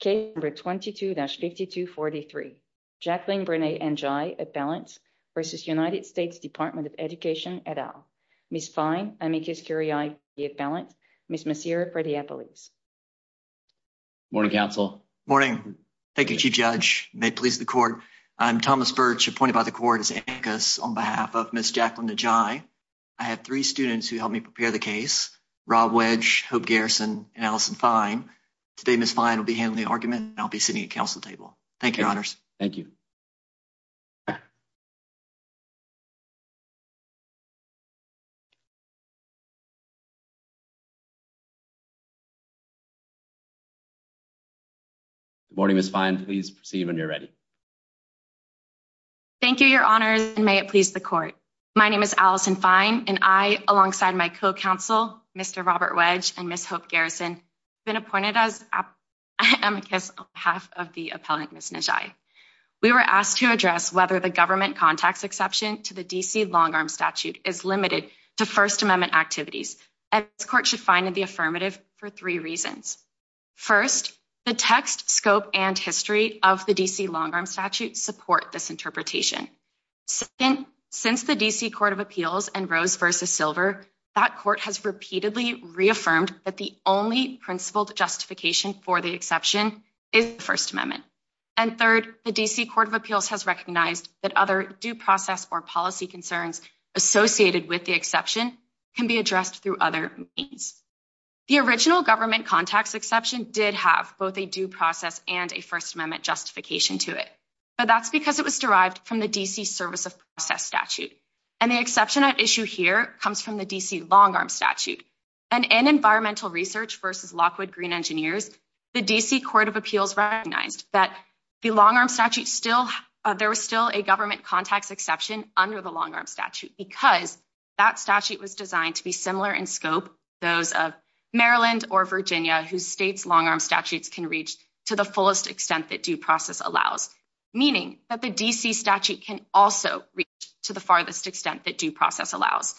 Case number 22-5243. Jacqueline Brené N'jai at balance versus United States Department of Education et al. Ms. Fine, I make this query at balance. Ms. Massir, for the appellees. Morning, counsel. Morning. Thank you, Chief Judge. May it please the court. I'm Thomas Birch, appointed by the court as anchor on behalf of Ms. Jacqueline N'jai. I have three students who helped me prepare the case. Rob Wedge, Hope Garrison, and Allison Fine. Today, Ms. Fine will be handling the argument, and I'll be sitting at counsel table. Thank you, your honors. Thank you. Good morning, Ms. Fine. Please proceed when you're ready. Thank you, your honors, and may it please the court. My name is Allison Fine, and I, Robert Wedge, and Ms. Hope Garrison, have been appointed on behalf of the appellant, Ms. N'jai. We were asked to address whether the government contacts exception to the D.C. long-arm statute is limited to First Amendment activities. This court should find in the affirmative for three reasons. First, the text, scope, and history of the D.C. long-arm statute support this interpretation. Second, since the D.C. Court of Appeals and Rose versus Silver, that court has repeatedly reaffirmed that the only principled justification for the exception is the First Amendment. And third, the D.C. Court of Appeals has recognized that other due process or policy concerns associated with the exception can be addressed through other means. The original government contacts exception did have both a due process and a First Amendment justification to it, but that's because it was derived from the D.C. service of process statute, and the exception at issue here comes from the D.C. long-arm statute. And in environmental research versus Lockwood Green Engineers, the D.C. Court of Appeals recognized that the long-arm statute still, there was still a government contacts exception under the long-arm statute because that statute was designed to be similar in scope to those of Maryland or Virginia whose state's long-arm statutes can reach to the fullest extent that process allows, meaning that the D.C. statute can also reach to the farthest extent that due process allows.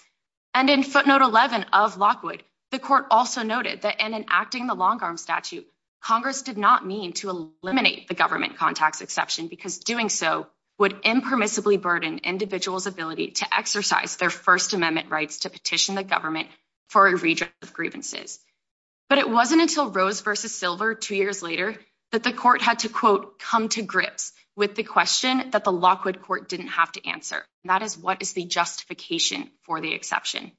And in footnote 11 of Lockwood, the court also noted that in enacting the long-arm statute, Congress did not mean to eliminate the government contacts exception because doing so would impermissibly burden individuals' ability to exercise their First Amendment rights to petition the government for a redress of grievances. But it wasn't until Rose versus two years later that the court had to quote, come to grips with the question that the Lockwood court didn't have to answer. That is what is the justification for the exception?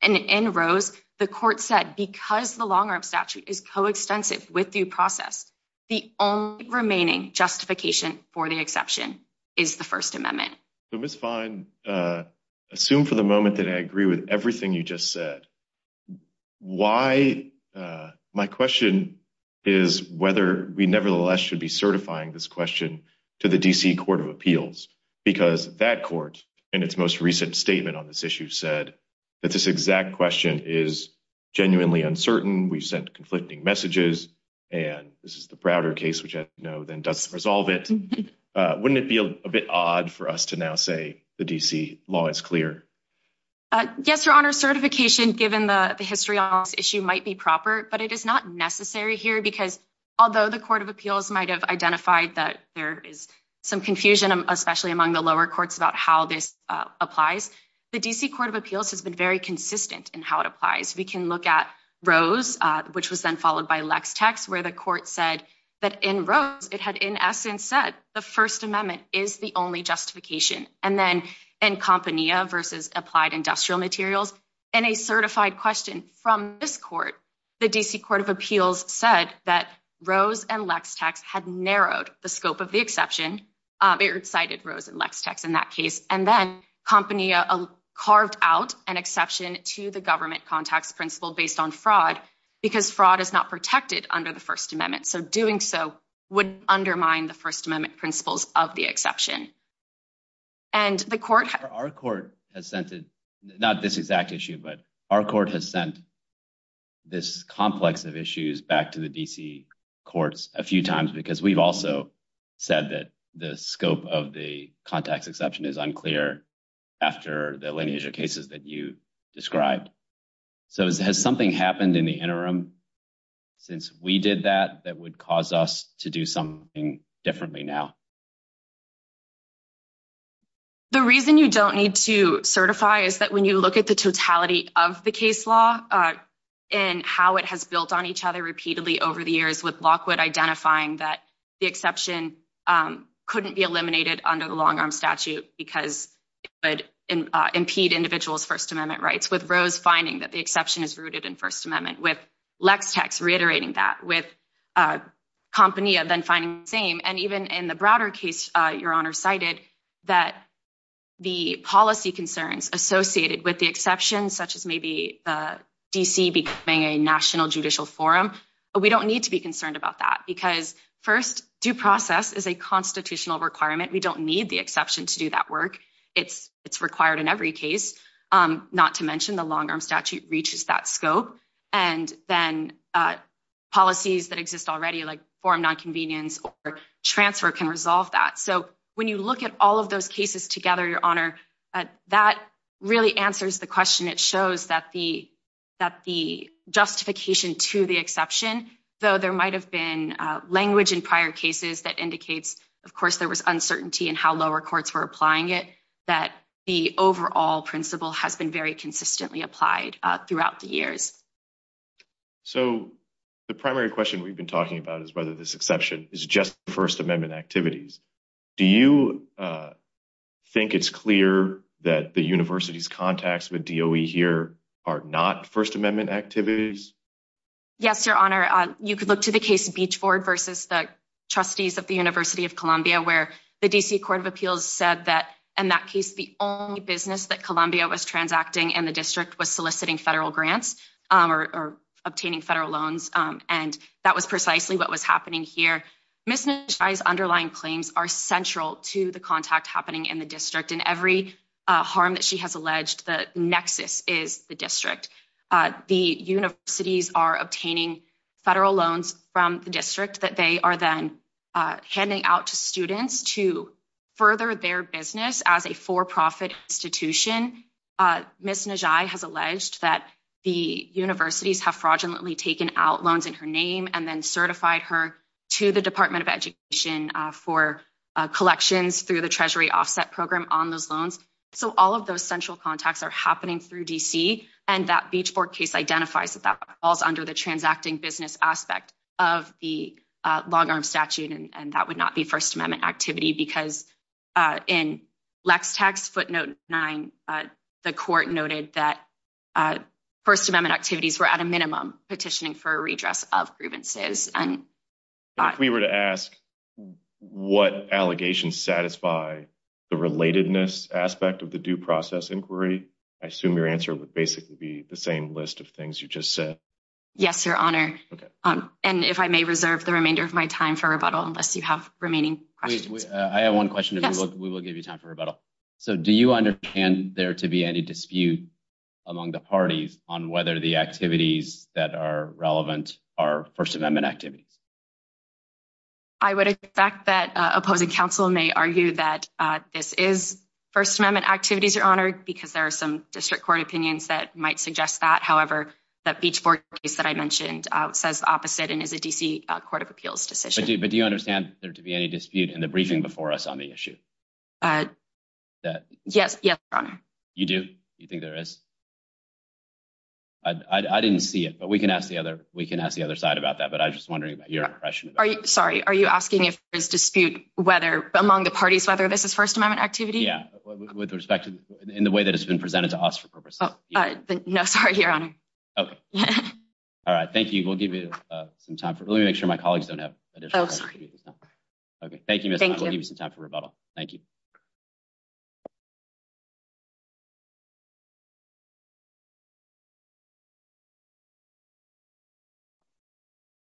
And in Rose, the court said, because the long-arm statute is coextensive with due process, the only remaining justification for the exception is the First Amendment. So Ms. Fine, assume for the moment that I agree with everything you just said. Why? My question is whether we nevertheless should be certifying this question to the D.C. Court of Appeals because that court, in its most recent statement on this issue, said that this exact question is genuinely uncertain. We've sent conflicting messages, and this is the Browder case, which I know then doesn't resolve it. Wouldn't it be a bit odd for us to now say the D.C. law is clear? Yes, Your Honor. Certification, given the history on this issue, might be proper, but it is not necessary here because although the Court of Appeals might have identified that there is some confusion, especially among the lower courts, about how this applies, the D.C. Court of Appeals has been very consistent in how it applies. We can look at Rose, which was then followed by Lex-Tex, where the court said that in Rose, it had in essence said the First Amendment is the only justification. And then in Compania versus Applied Industrial Materials, in a certified question from this court, the D.C. Court of Appeals said that Rose and Lex-Tex had narrowed the scope of the exception. It cited Rose and Lex-Tex in that case. And then Compania carved out an exception to the government contacts principle based on fraud because fraud is not protected under the First Amendment. So doing so would undermine the First Amendment principles of the exception. And the court... Our court has sent, not this exact issue, but our court has sent this complex of issues back to the D.C. courts a few times because we've also said that the scope of the contacts exception is unclear after the lineage of cases that you described. So has something happened in the interim since we did that that would cause us to do something differently now? The reason you don't need to certify is that when you look at the totality of the case law and how it has built on each other repeatedly over the years with Lockwood identifying that the exception couldn't be eliminated under the long-arm statute because it would impede individuals' First Amendment rights with Rose finding that the exception is rooted in First Amendment. Lex-Tex reiterating that with Compania then finding the same. And even in the Browder case, Your Honor cited that the policy concerns associated with the exception, such as maybe D.C. becoming a national judicial forum, we don't need to be concerned about that because, first, due process is a constitutional requirement. We don't need the exception to do that work. It's required in every case, not to mention the long-arm statute reaches that scope. And then policies that exist already like forum nonconvenience or transfer can resolve that. So when you look at all of those cases together, Your Honor, that really answers the question. It shows that the justification to the exception, though there might have been language in prior cases that indicates, of course, there was uncertainty in how lower courts were applying it, that the overall principle has been very consistently applied throughout the years. So the primary question we've been talking about is whether this exception is just First Amendment activities. Do you think it's clear that the university's contacts with DOE here are not First Amendment activities? Yes, Your Honor. You could look to the case of Beachford versus the trustees of the University of Columbia, where the D.C. Court of Appeals said that in that case, the only business that Columbia was transacting in the district was soliciting federal grants or obtaining federal loans. And that was precisely what was happening here. Ms. Njai's underlying claims are central to the contact happening in the district. And every harm that she has alleged, the nexus is the district. The universities are obtaining federal loans from the district that they are then handing out to students to further their business as a for-profit institution. Ms. Njai has alleged that the universities have fraudulently taken out loans in her name and then certified her to the Department of Education for collections through the Treasury Offset Program on those loans. So all of those central contacts are happening through D.C. And that Beachford case identifies that that falls under the transacting business aspect of the long-arm statute, and that would not be First Amendment activity because in Lex Tax footnote 9, the court noted that First Amendment activities were at a minimum petitioning for a redress of grievances. If we were to ask what allegations satisfy the relatedness aspect of the due process inquiry, I assume your answer would basically be the same list of things you just said. Yes, Your Honor. And if I may reserve the remainder of my time for rebuttal, unless you have remaining questions. I have one question. We will give you time for rebuttal. So do you understand there to be any dispute among the parties on whether the activities that are relevant are First Amendment activities? I would expect that opposing counsel may argue that this is First Amendment activities, Your Honor, because there are some district court opinions that might suggest that. However, that Beachford case that I mentioned says the opposite and is a D.C. Court of Appeals decision. But do you understand there to be any dispute in the briefing before us on the issue? Yes, Your Honor. You do? You think there is? I didn't see it, but we can ask the other. We can ask the other side about that. But I was just wondering about your impression. Sorry, are you asking if there's dispute whether among the parties whether this is First Amendment activity? Yeah, with respect to in the way that it's been presented to us for purposes. No, sorry, Your Honor. Okay. All right. Thank you. We'll give you some time for let me make sure my colleagues don't have. Oh, sorry. Okay. Thank you. Thank you. We'll give you some time for rebuttal. Thank you.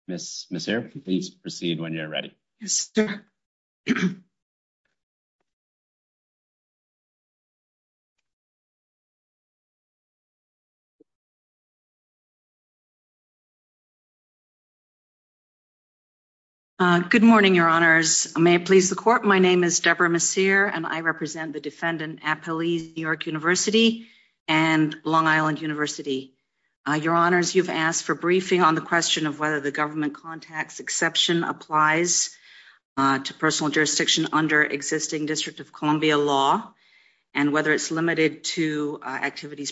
Miss Maseer, please proceed when you're ready. Uh, good morning, Your Honors. May it please the court. My name is Deborah Maseer, and I represent the defendant at Police New York University and Long Island University. Your Honors, you've asked for briefing on the question of whether the government contacts exception applies to personal jurisdiction under existing District of Columbia law and whether it's limited to activities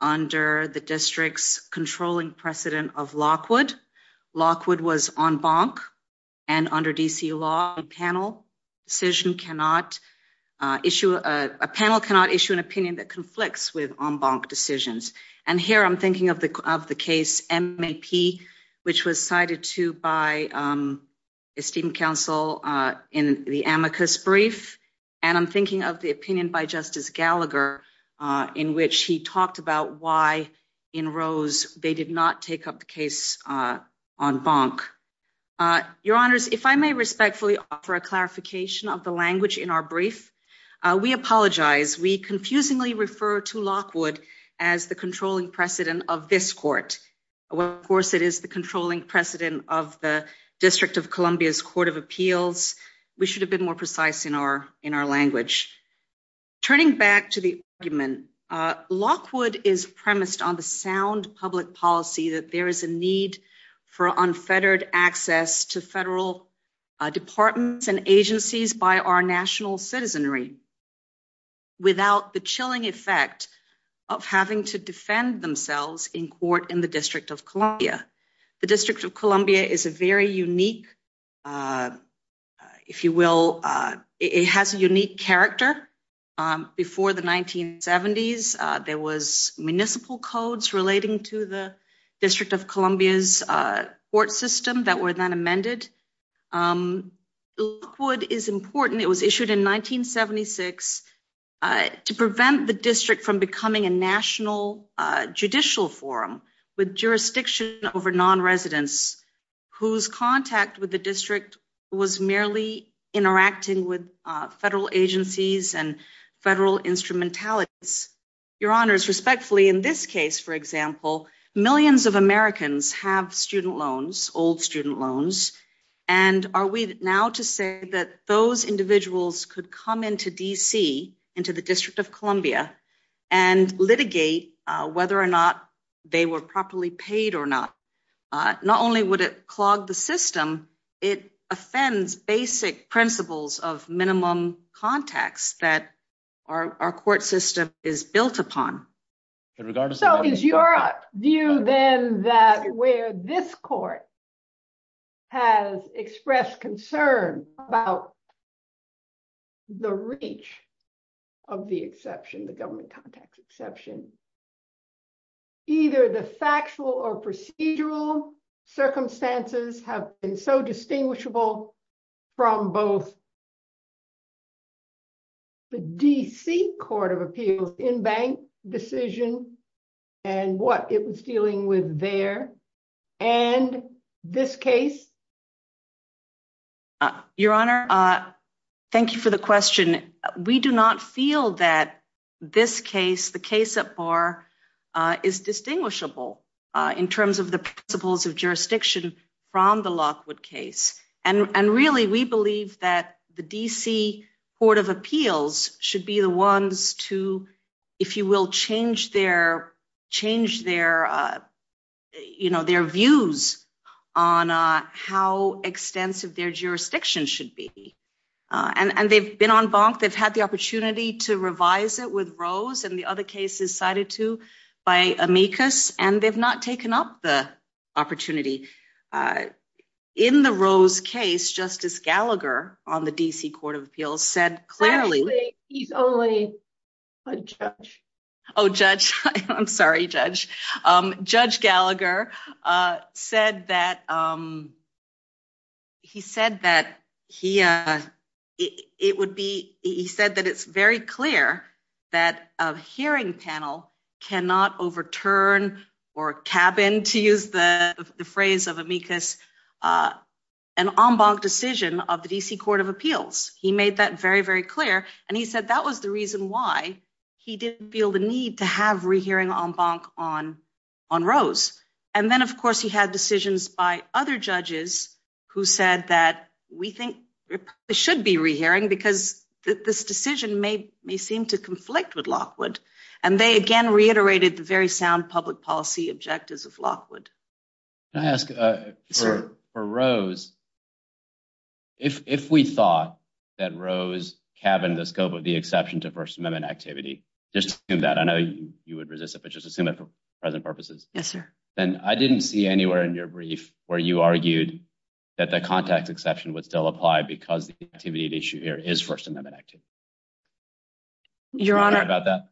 under the district's controlling precedent of Lockwood. Lockwood was en banc and under D. C. Law panel decision cannot issue a panel, cannot issue an opinion that conflicts with en banc decisions. And here I'm thinking of the of the case M. A. P, which was cited to by esteemed counsel in the amicus brief. And I'm thinking of the opinion by Justice Gallagher in which he talked about why in rose they did not take up the case on bonk. Uh, Your Honors, if I may respectfully offer a clarification of the language in our brief, we apologize. We confusingly refer to Lockwood as the controlling precedent of this court. Well, of course, it is the controlling precedent of the District of Columbia's Court of Appeals. We should have been more precise in our in our language. Turning back to the argument, Lockwood is premised on the sound public policy that there is a need for unfettered access to federal departments and agencies by our national citizenry without the chilling effect of having to defend themselves in court in the District of Columbia is a very unique, uh, if you will, uh, it has a unique character. Um, before the 1970s, uh, there was municipal codes relating to the District of Columbia's, uh, court system that were then amended. Um, Lockwood is important. It was issued in 1976, uh, to prevent the district from becoming a national judicial forum with jurisdiction over nonresidents whose contact with the district was merely interacting with federal agencies and federal instrumentalities. Your Honors, respectfully, in this case, for example, millions of Americans have student loans, old student loans. And are we now to say that those individuals could come into D. C. into the District of Columbia and litigate, uh, whether or not they were properly paid or not, uh, not only would it clog the system, it offends basic principles of minimum context that our, our court system is built upon. So is your view then that where this court has expressed concern about the reach of the exception, the government contacts exception, either the factual or procedural circumstances have been so distinguishable from both the D. C. Court of Appeals in-bank decision and what it was dealing with there and this case? Uh, Your Honor, uh, thank you for the question. We do not feel that this case, the case at bar, uh, is distinguishable, uh, in terms of the principles of jurisdiction from the Lockwood case. And, and really, we believe that the D. C. Court of Appeals should be the ones to, if you will, change their, change their, uh, you know, their views on, uh, how extensive their jurisdiction should be. Uh, and, and they've been on bonk. They've had the opportunity to revise it with Rose and the other cases cited to by amicus, and they've not taken up the opportunity. Uh, in the Rose case, Justice Gallagher on the D. C. Court of Appeals said clearly he's only a judge. Oh, judge. I'm sorry, Judge. Um, Judge Gallagher, uh, said that, um, he said that he, uh, it would be, he said that it's very clear that a hearing panel cannot overturn or cabin to use the phrase of amicus, uh, an on bonk decision of the D. C. Court of Appeals. He said that very, very clear, and he said that was the reason why he didn't feel the need to have rehearing on bonk on, on Rose. And then, of course, he had decisions by other judges who said that we think it should be rehearing because this decision may, may seem to conflict with Lockwood. And they, again, reiterated the very sound public policy objectives of Lockwood. Can I ask, uh, for, for Rose, if, if we thought that Rose cabin, the scope of the exception to First Amendment activity, just in that I know you would resist it, but just assume that for present purposes. Yes, sir. Then I didn't see anywhere in your brief where you argued that the contact exception would still apply because the activity issue here is First Amendment active. Your Honor about that.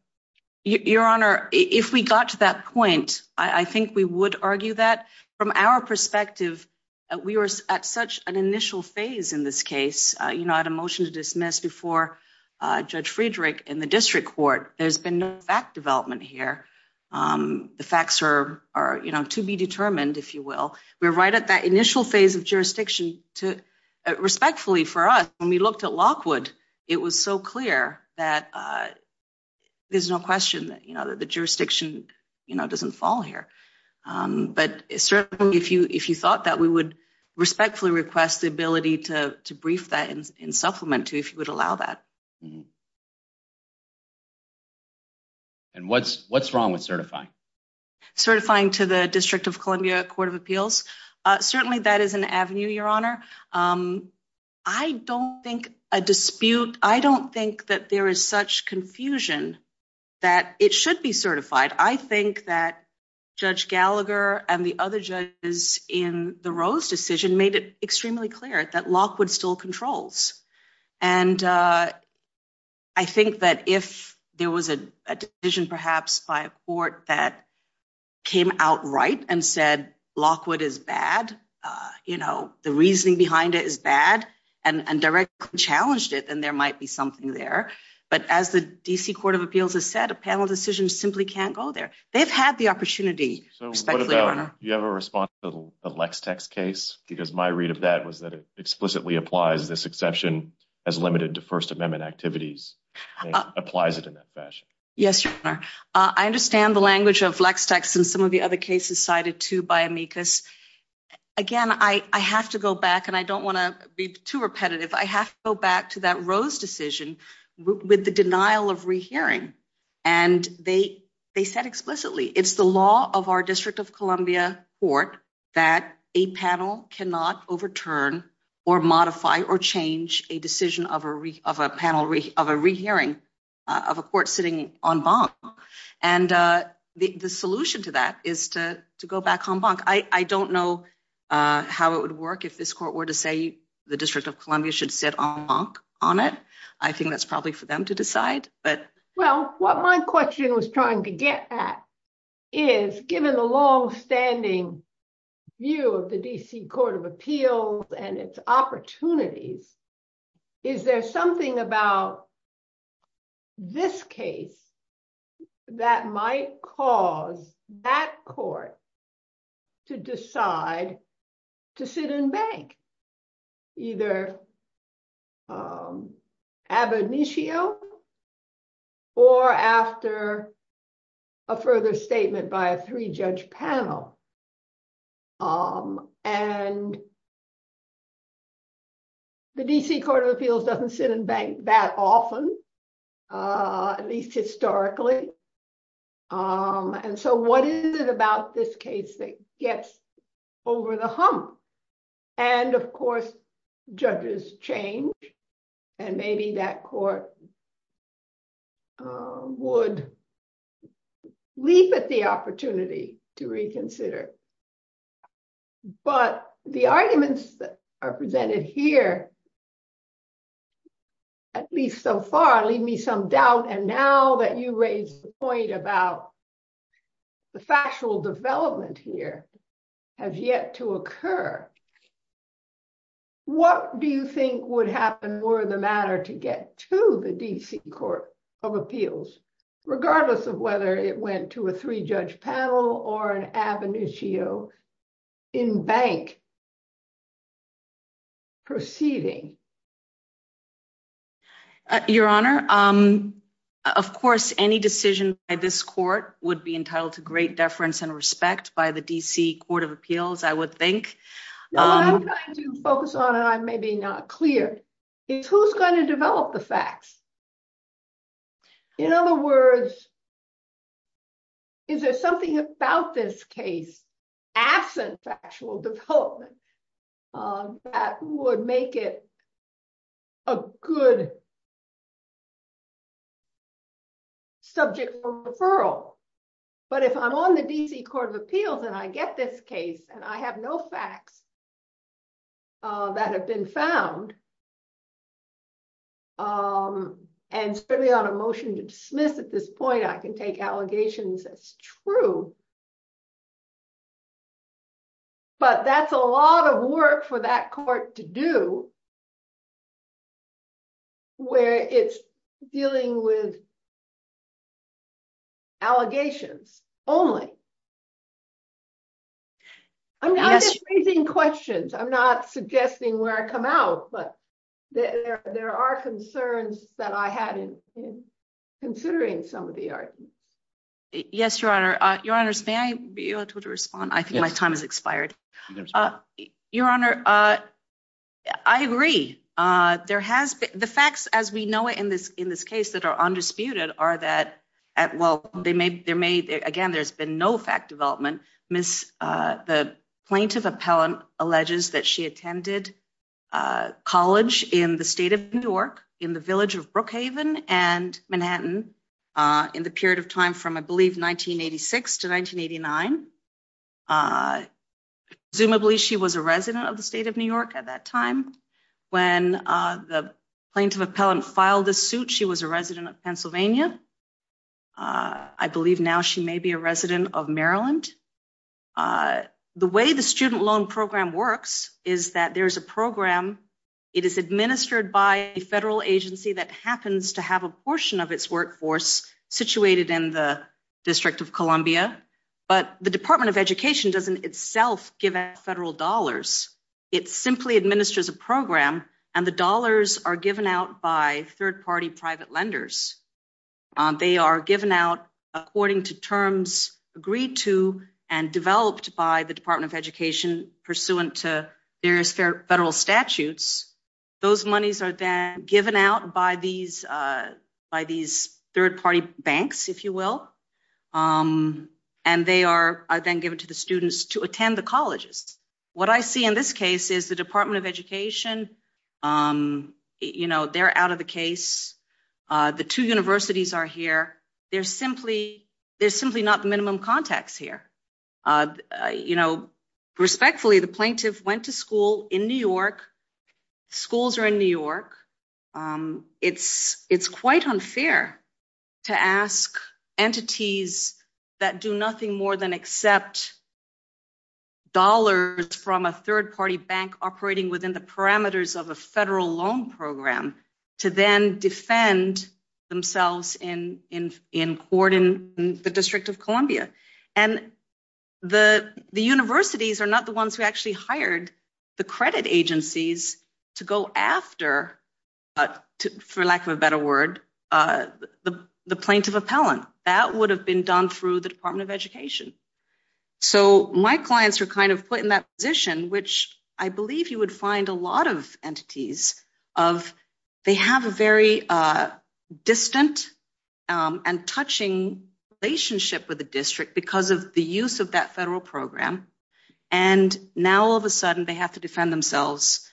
Your Honor, if we got to that point, I think we would argue that from our perspective, we were at such an initial phase in this case. You know, I had a motion to dismiss before Judge Friedrich in the district court. There's been no fact development here. Um, the facts are, are, you know, to be determined. If you will, we're right at that initial phase of jurisdiction to respectfully for us when we looked at Lockwood, it was so clear that, uh, there's no question that, you know, that the jurisdiction, you know, doesn't fall here. Um, but certainly if you, if you thought that we would respectfully request the ability to brief that in supplement to if you would allow that. And what's what's wrong with certifying certifying to the District of Columbia Court of Appeals? Certainly that is an avenue. Your Honor. Um, I don't think a dispute. I don't think that there is such confusion that it should be certified. I think that Judge Gallagher and the other judges in the Rose decision made it extremely clear that Lockwood still controls. And, uh, I think that if there was a decision, perhaps by a court that came out right and said, Lockwood is bad. Uh, you know, the reasoning behind it is bad and directly challenged it. Then there might be something there. But as the D. C. Court of Appeals has said, a panel decision simply can't go there. They have had the opportunity. You have a response to the lex text case, because my read of that was that it explicitly applies this exception as limited to First Amendment activities applies it in that fashion. Yes, your honor. I understand the language of flex text and some of the other cases cited to by amicus. Again, I have to go back and I don't want to be too repetitive. I have to go back to that decision with the denial of rehearing, and they they said explicitly it's the law of our District of Columbia Court that a panel cannot overturn or modify or change a decision of a of a panel of a rehearing of a court sitting on Bonk. And, uh, the solution to that is to go back on Bank. I don't know how it would work if this court were to say the District of Columbia should sit on on it. I think that's probably for them to decide. But well, what my question was trying to get at is given the longstanding view of the D. C. Court of Appeals and its opportunities. Is there something about this case that might cause that court to decide to sit in Bank? Either, um, ab initio or after a further statement by a three judge panel? Um, and the D. C. Court of Appeals doesn't sit in Bank that often, uh, at least historically. Um, and so what is it about this case that gets over the hump? And of course, judges change, and maybe that court would leap at the opportunity to reconsider. But the arguments that are presented here, at least so far, leave me some doubt. And now that you raised the point about the factual development here has yet to occur. What do you think would happen were the matter to get to the D. C. Court of Appeals, regardless of whether it went to a three judge panel or an ab initio in Bank proceeding? Your Honor, um, of course, any decision by this court would be entitled to great deference and respect by the D. C. Court of Appeals, I would think. No, I'm trying to focus on, and I may be not clear, is who's going to develop the facts? In other words, is there something about this case absent factual development? Um, that would make it a good subject for referral. But if I'm on the D. C. Court of Appeals and I get this case and I have no facts, uh, that have been found, um, and certainly on a motion to dismiss at this point, I can take allegations as true, but that's a lot of work for that court to do where it's dealing with allegations only. I'm just raising questions. I'm not suggesting where I come out, but there are concerns that I had in considering some of the art. Yes, Your Honor. Your Honor's may be able to respond. I think my time has expired. Your Honor, uh, I agree. Uh, there has the facts as we know it in this in this case that are undisputed are that at well, they may. There may again. There's been no fact development. Miss, uh, the plaintiff appellant alleges that she attended a college in the state of New York in the village of Brookhaven and Manhattan on the period of time from, I believe, 1986 to 1989. Uh, zoom. I believe she was a resident of the state of New York at that time when the plaintiff appellant filed the suit. She was a resident of Pennsylvania. Uh, I believe now she may be a resident of Maryland. Uh, the way the student loan program works is that there's a program. It is administered by a federal agency that happens to have a portion of its workforce situated in the district of Columbia. But the Department of Education doesn't itself give a federal dollars. It simply administers a program and the dollars are given out by third party private lenders. They are given out according to terms agreed to and developed by the Department of Education pursuant to various federal statutes. Those monies are then given out by these, uh, by these third party banks, if you will. Um, and they are then given to the students to attend the colleges. What I see in this case is the Department of Education. Um, you know, they're out of the case. Uh, the two universities are here. There's simply there's simply not the minimum contacts here. Uh, you know, respectfully, the plaintiff went to school in New York. Schools are in New York. Um, it's it's quite unfair to ask entities that do nothing more than accept dollars from a third party bank operating within the parameters of a federal loan program to then defend themselves in in in court in the district of Columbia. And the universities are not the ones who actually hired the credit agencies to go after, uh, for lack of a better word, uh, the plaintiff appellant that would have been done through the Department of Education. So my clients were kind of put in that position, which I believe you would find a lot of entities of they have a very, uh, distant, um, and touching relationship with the district because of the use of that federal program. And now, all of a sudden, they have to defend themselves,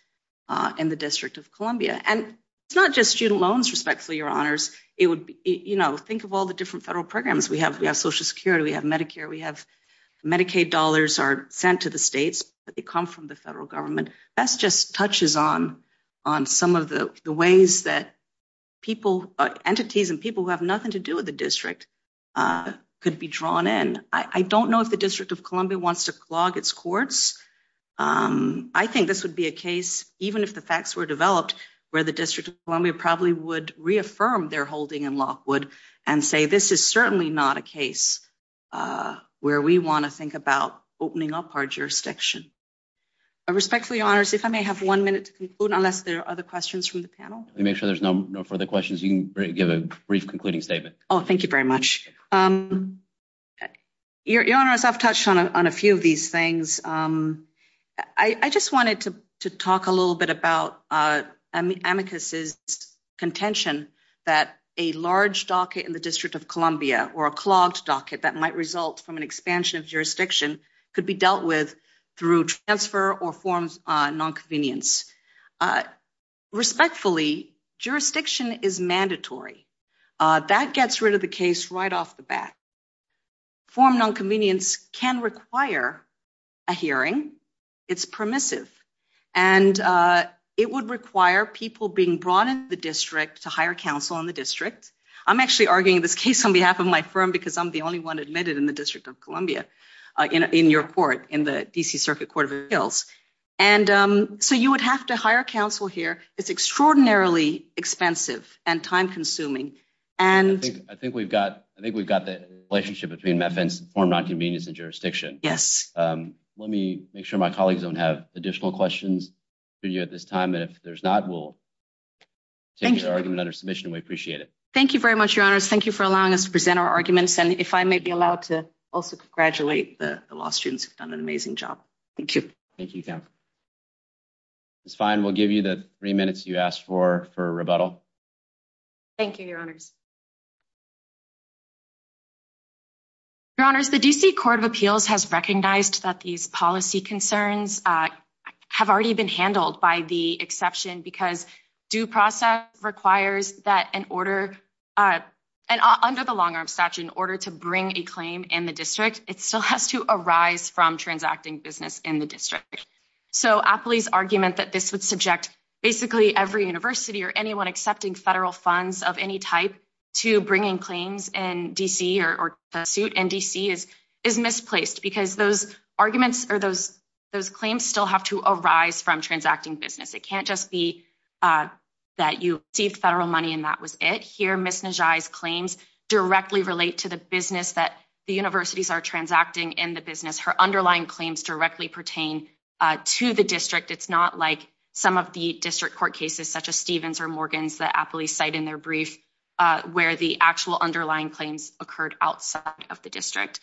uh, in the district of Columbia. And it's not just student loans, respectfully, your honors. It would be, you know, think of all the different federal programs we have. We have Social Security. We have Medicare. We have Medicaid dollars are sent to the states, but they come from the federal government. That's just touches on on some of the ways that people, entities and people who have nothing to do with the district, uh, could be drawn in. I don't know if the district of Columbia wants to clog its courts. Um, I think this would be a case, even if the facts were developed, where the district of Columbia probably would reaffirm their holding in Lockwood and say this is certainly not a case, uh, where we want to think about opening up our jurisdiction. Respectfully, honors, if I may have one minute to conclude unless there are other questions from the panel, make sure there's no further questions. You can give a brief concluding statement. Oh, thank you very much. Um, your honors, I've touched on a few of these things. Um, I just wanted to talk a little bit about, uh, amicus is contention that a large docket in the district of Columbia or a clogged docket that might result from an expansion of through transfer or forms nonconvenience. Uh, respectfully, jurisdiction is mandatory. Uh, that gets rid of the case right off the bat form. Nonconvenience can require a hearing. It's permissive, and, uh, it would require people being brought in the district to hire counsel on the district. I'm actually arguing this case on behalf of my firm because I'm the only one admitted in the district of Columbia in your court in the D. C. Circuit Court of Appeals. And, um, so you would have to hire counsel here. It's extraordinarily expensive and time consuming, and I think we've got I think we've got the relationship between methods form, not convenience and jurisdiction. Yes. Um, let me make sure my colleagues don't have additional questions for you at this time. And if there's not, we'll take your argument under submission. We appreciate it. Thank you very much, Thank you for allowing us to present our arguments. And if I may be allowed to also congratulate the law students have done an amazing job. Thank you. Thank you. It's fine. We'll give you the three minutes you asked for for rebuttal. Thank you, Your Honors. Your Honors, the D. C. Court of Appeals has recognized that these policy concerns have already been handled by the exception because due process requires that an order and under the long arm statute in order to bring a claim in the district, it still has to arise from transacting business in the district. So Appley's argument that this would subject basically every university or anyone accepting federal funds of any type to bringing claims in D. C. Or the suit in D. C. Is is misplaced because those arguments or those those claims still have to arise from transacting business. It can't just be, uh, that you see federal money, and that was it here. Miss Najai's claims directly relate to the business that the universities are transacting in the business. Her underlying claims directly pertain to the district. It's not like some of the district court cases such as Stevens or Morgan's that Appley cite in their brief where the actual underlying claims occurred outside of the district.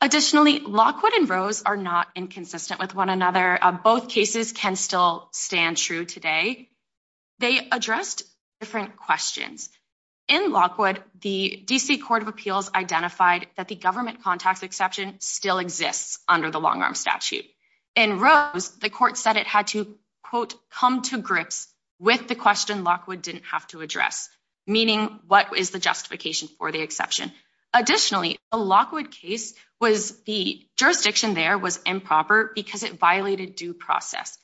Additionally, Lockwood and Rose are not inconsistent with one another. Both cases can still stand true today. They addressed different questions. In Lockwood, the D. C. Court of Appeals identified that the government contacts exception still exists under the long arm statute. In Rose, the court said it had to quote come to grips with the question Lockwood didn't have to address, meaning what is the justification for the exception? Additionally, a Lockwood case was the jurisdiction there was improper because it violated due process.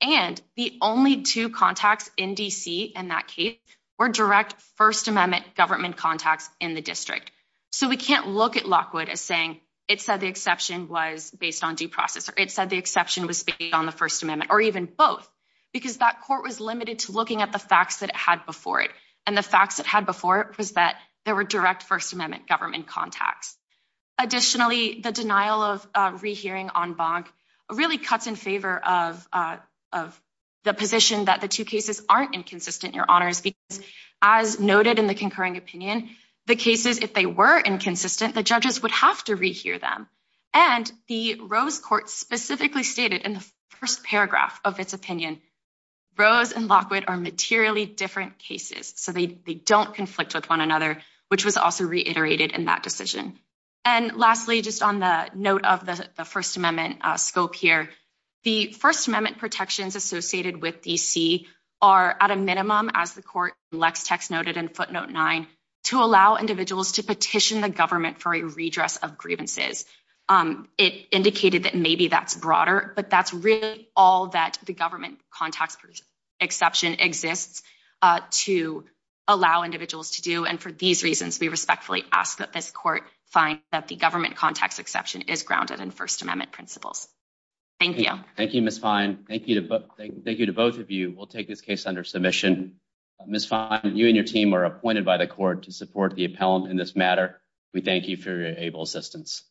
And the only two contacts in D. C. In that case were direct First Amendment government contacts in the district. So we can't look at Lockwood as saying it said the exception was based on due process, or it said the exception was speaking on the First Amendment or even both because that court was limited to looking at the facts that it had before it. And the facts that had before was that there were direct First Amendment government contacts. Additionally, the denial of rehearing on Bonk really cuts in favor of of the position that the two cases aren't inconsistent, your honors, because, as noted in the concurring opinion, the cases if they were inconsistent, the judges would have to rehear them. And the Rose court specifically stated in the first paragraph of its opinion. Rose and Lockwood are materially different cases, so they don't conflict with one another, which was also reiterated in that decision. And lastly, just on the note of the First Amendment scope here, the First Amendment protections associated with D. C. are at a minimum, as the court Lex text noted in footnote nine to allow individuals to petition the government for a redress of grievances. It indicated that maybe that's broader, but that's all that the government context exception exists to allow individuals to do. And for these reasons, we respectfully ask that this court find that the government context exception is grounded in First Amendment principles. Thank you. Thank you, Miss Fine. Thank you. Thank you to both of you. We'll take this case under submission. Miss Fine, you and your team are appointed by the court to support the appellant in this matter. We thank you for your able assistance.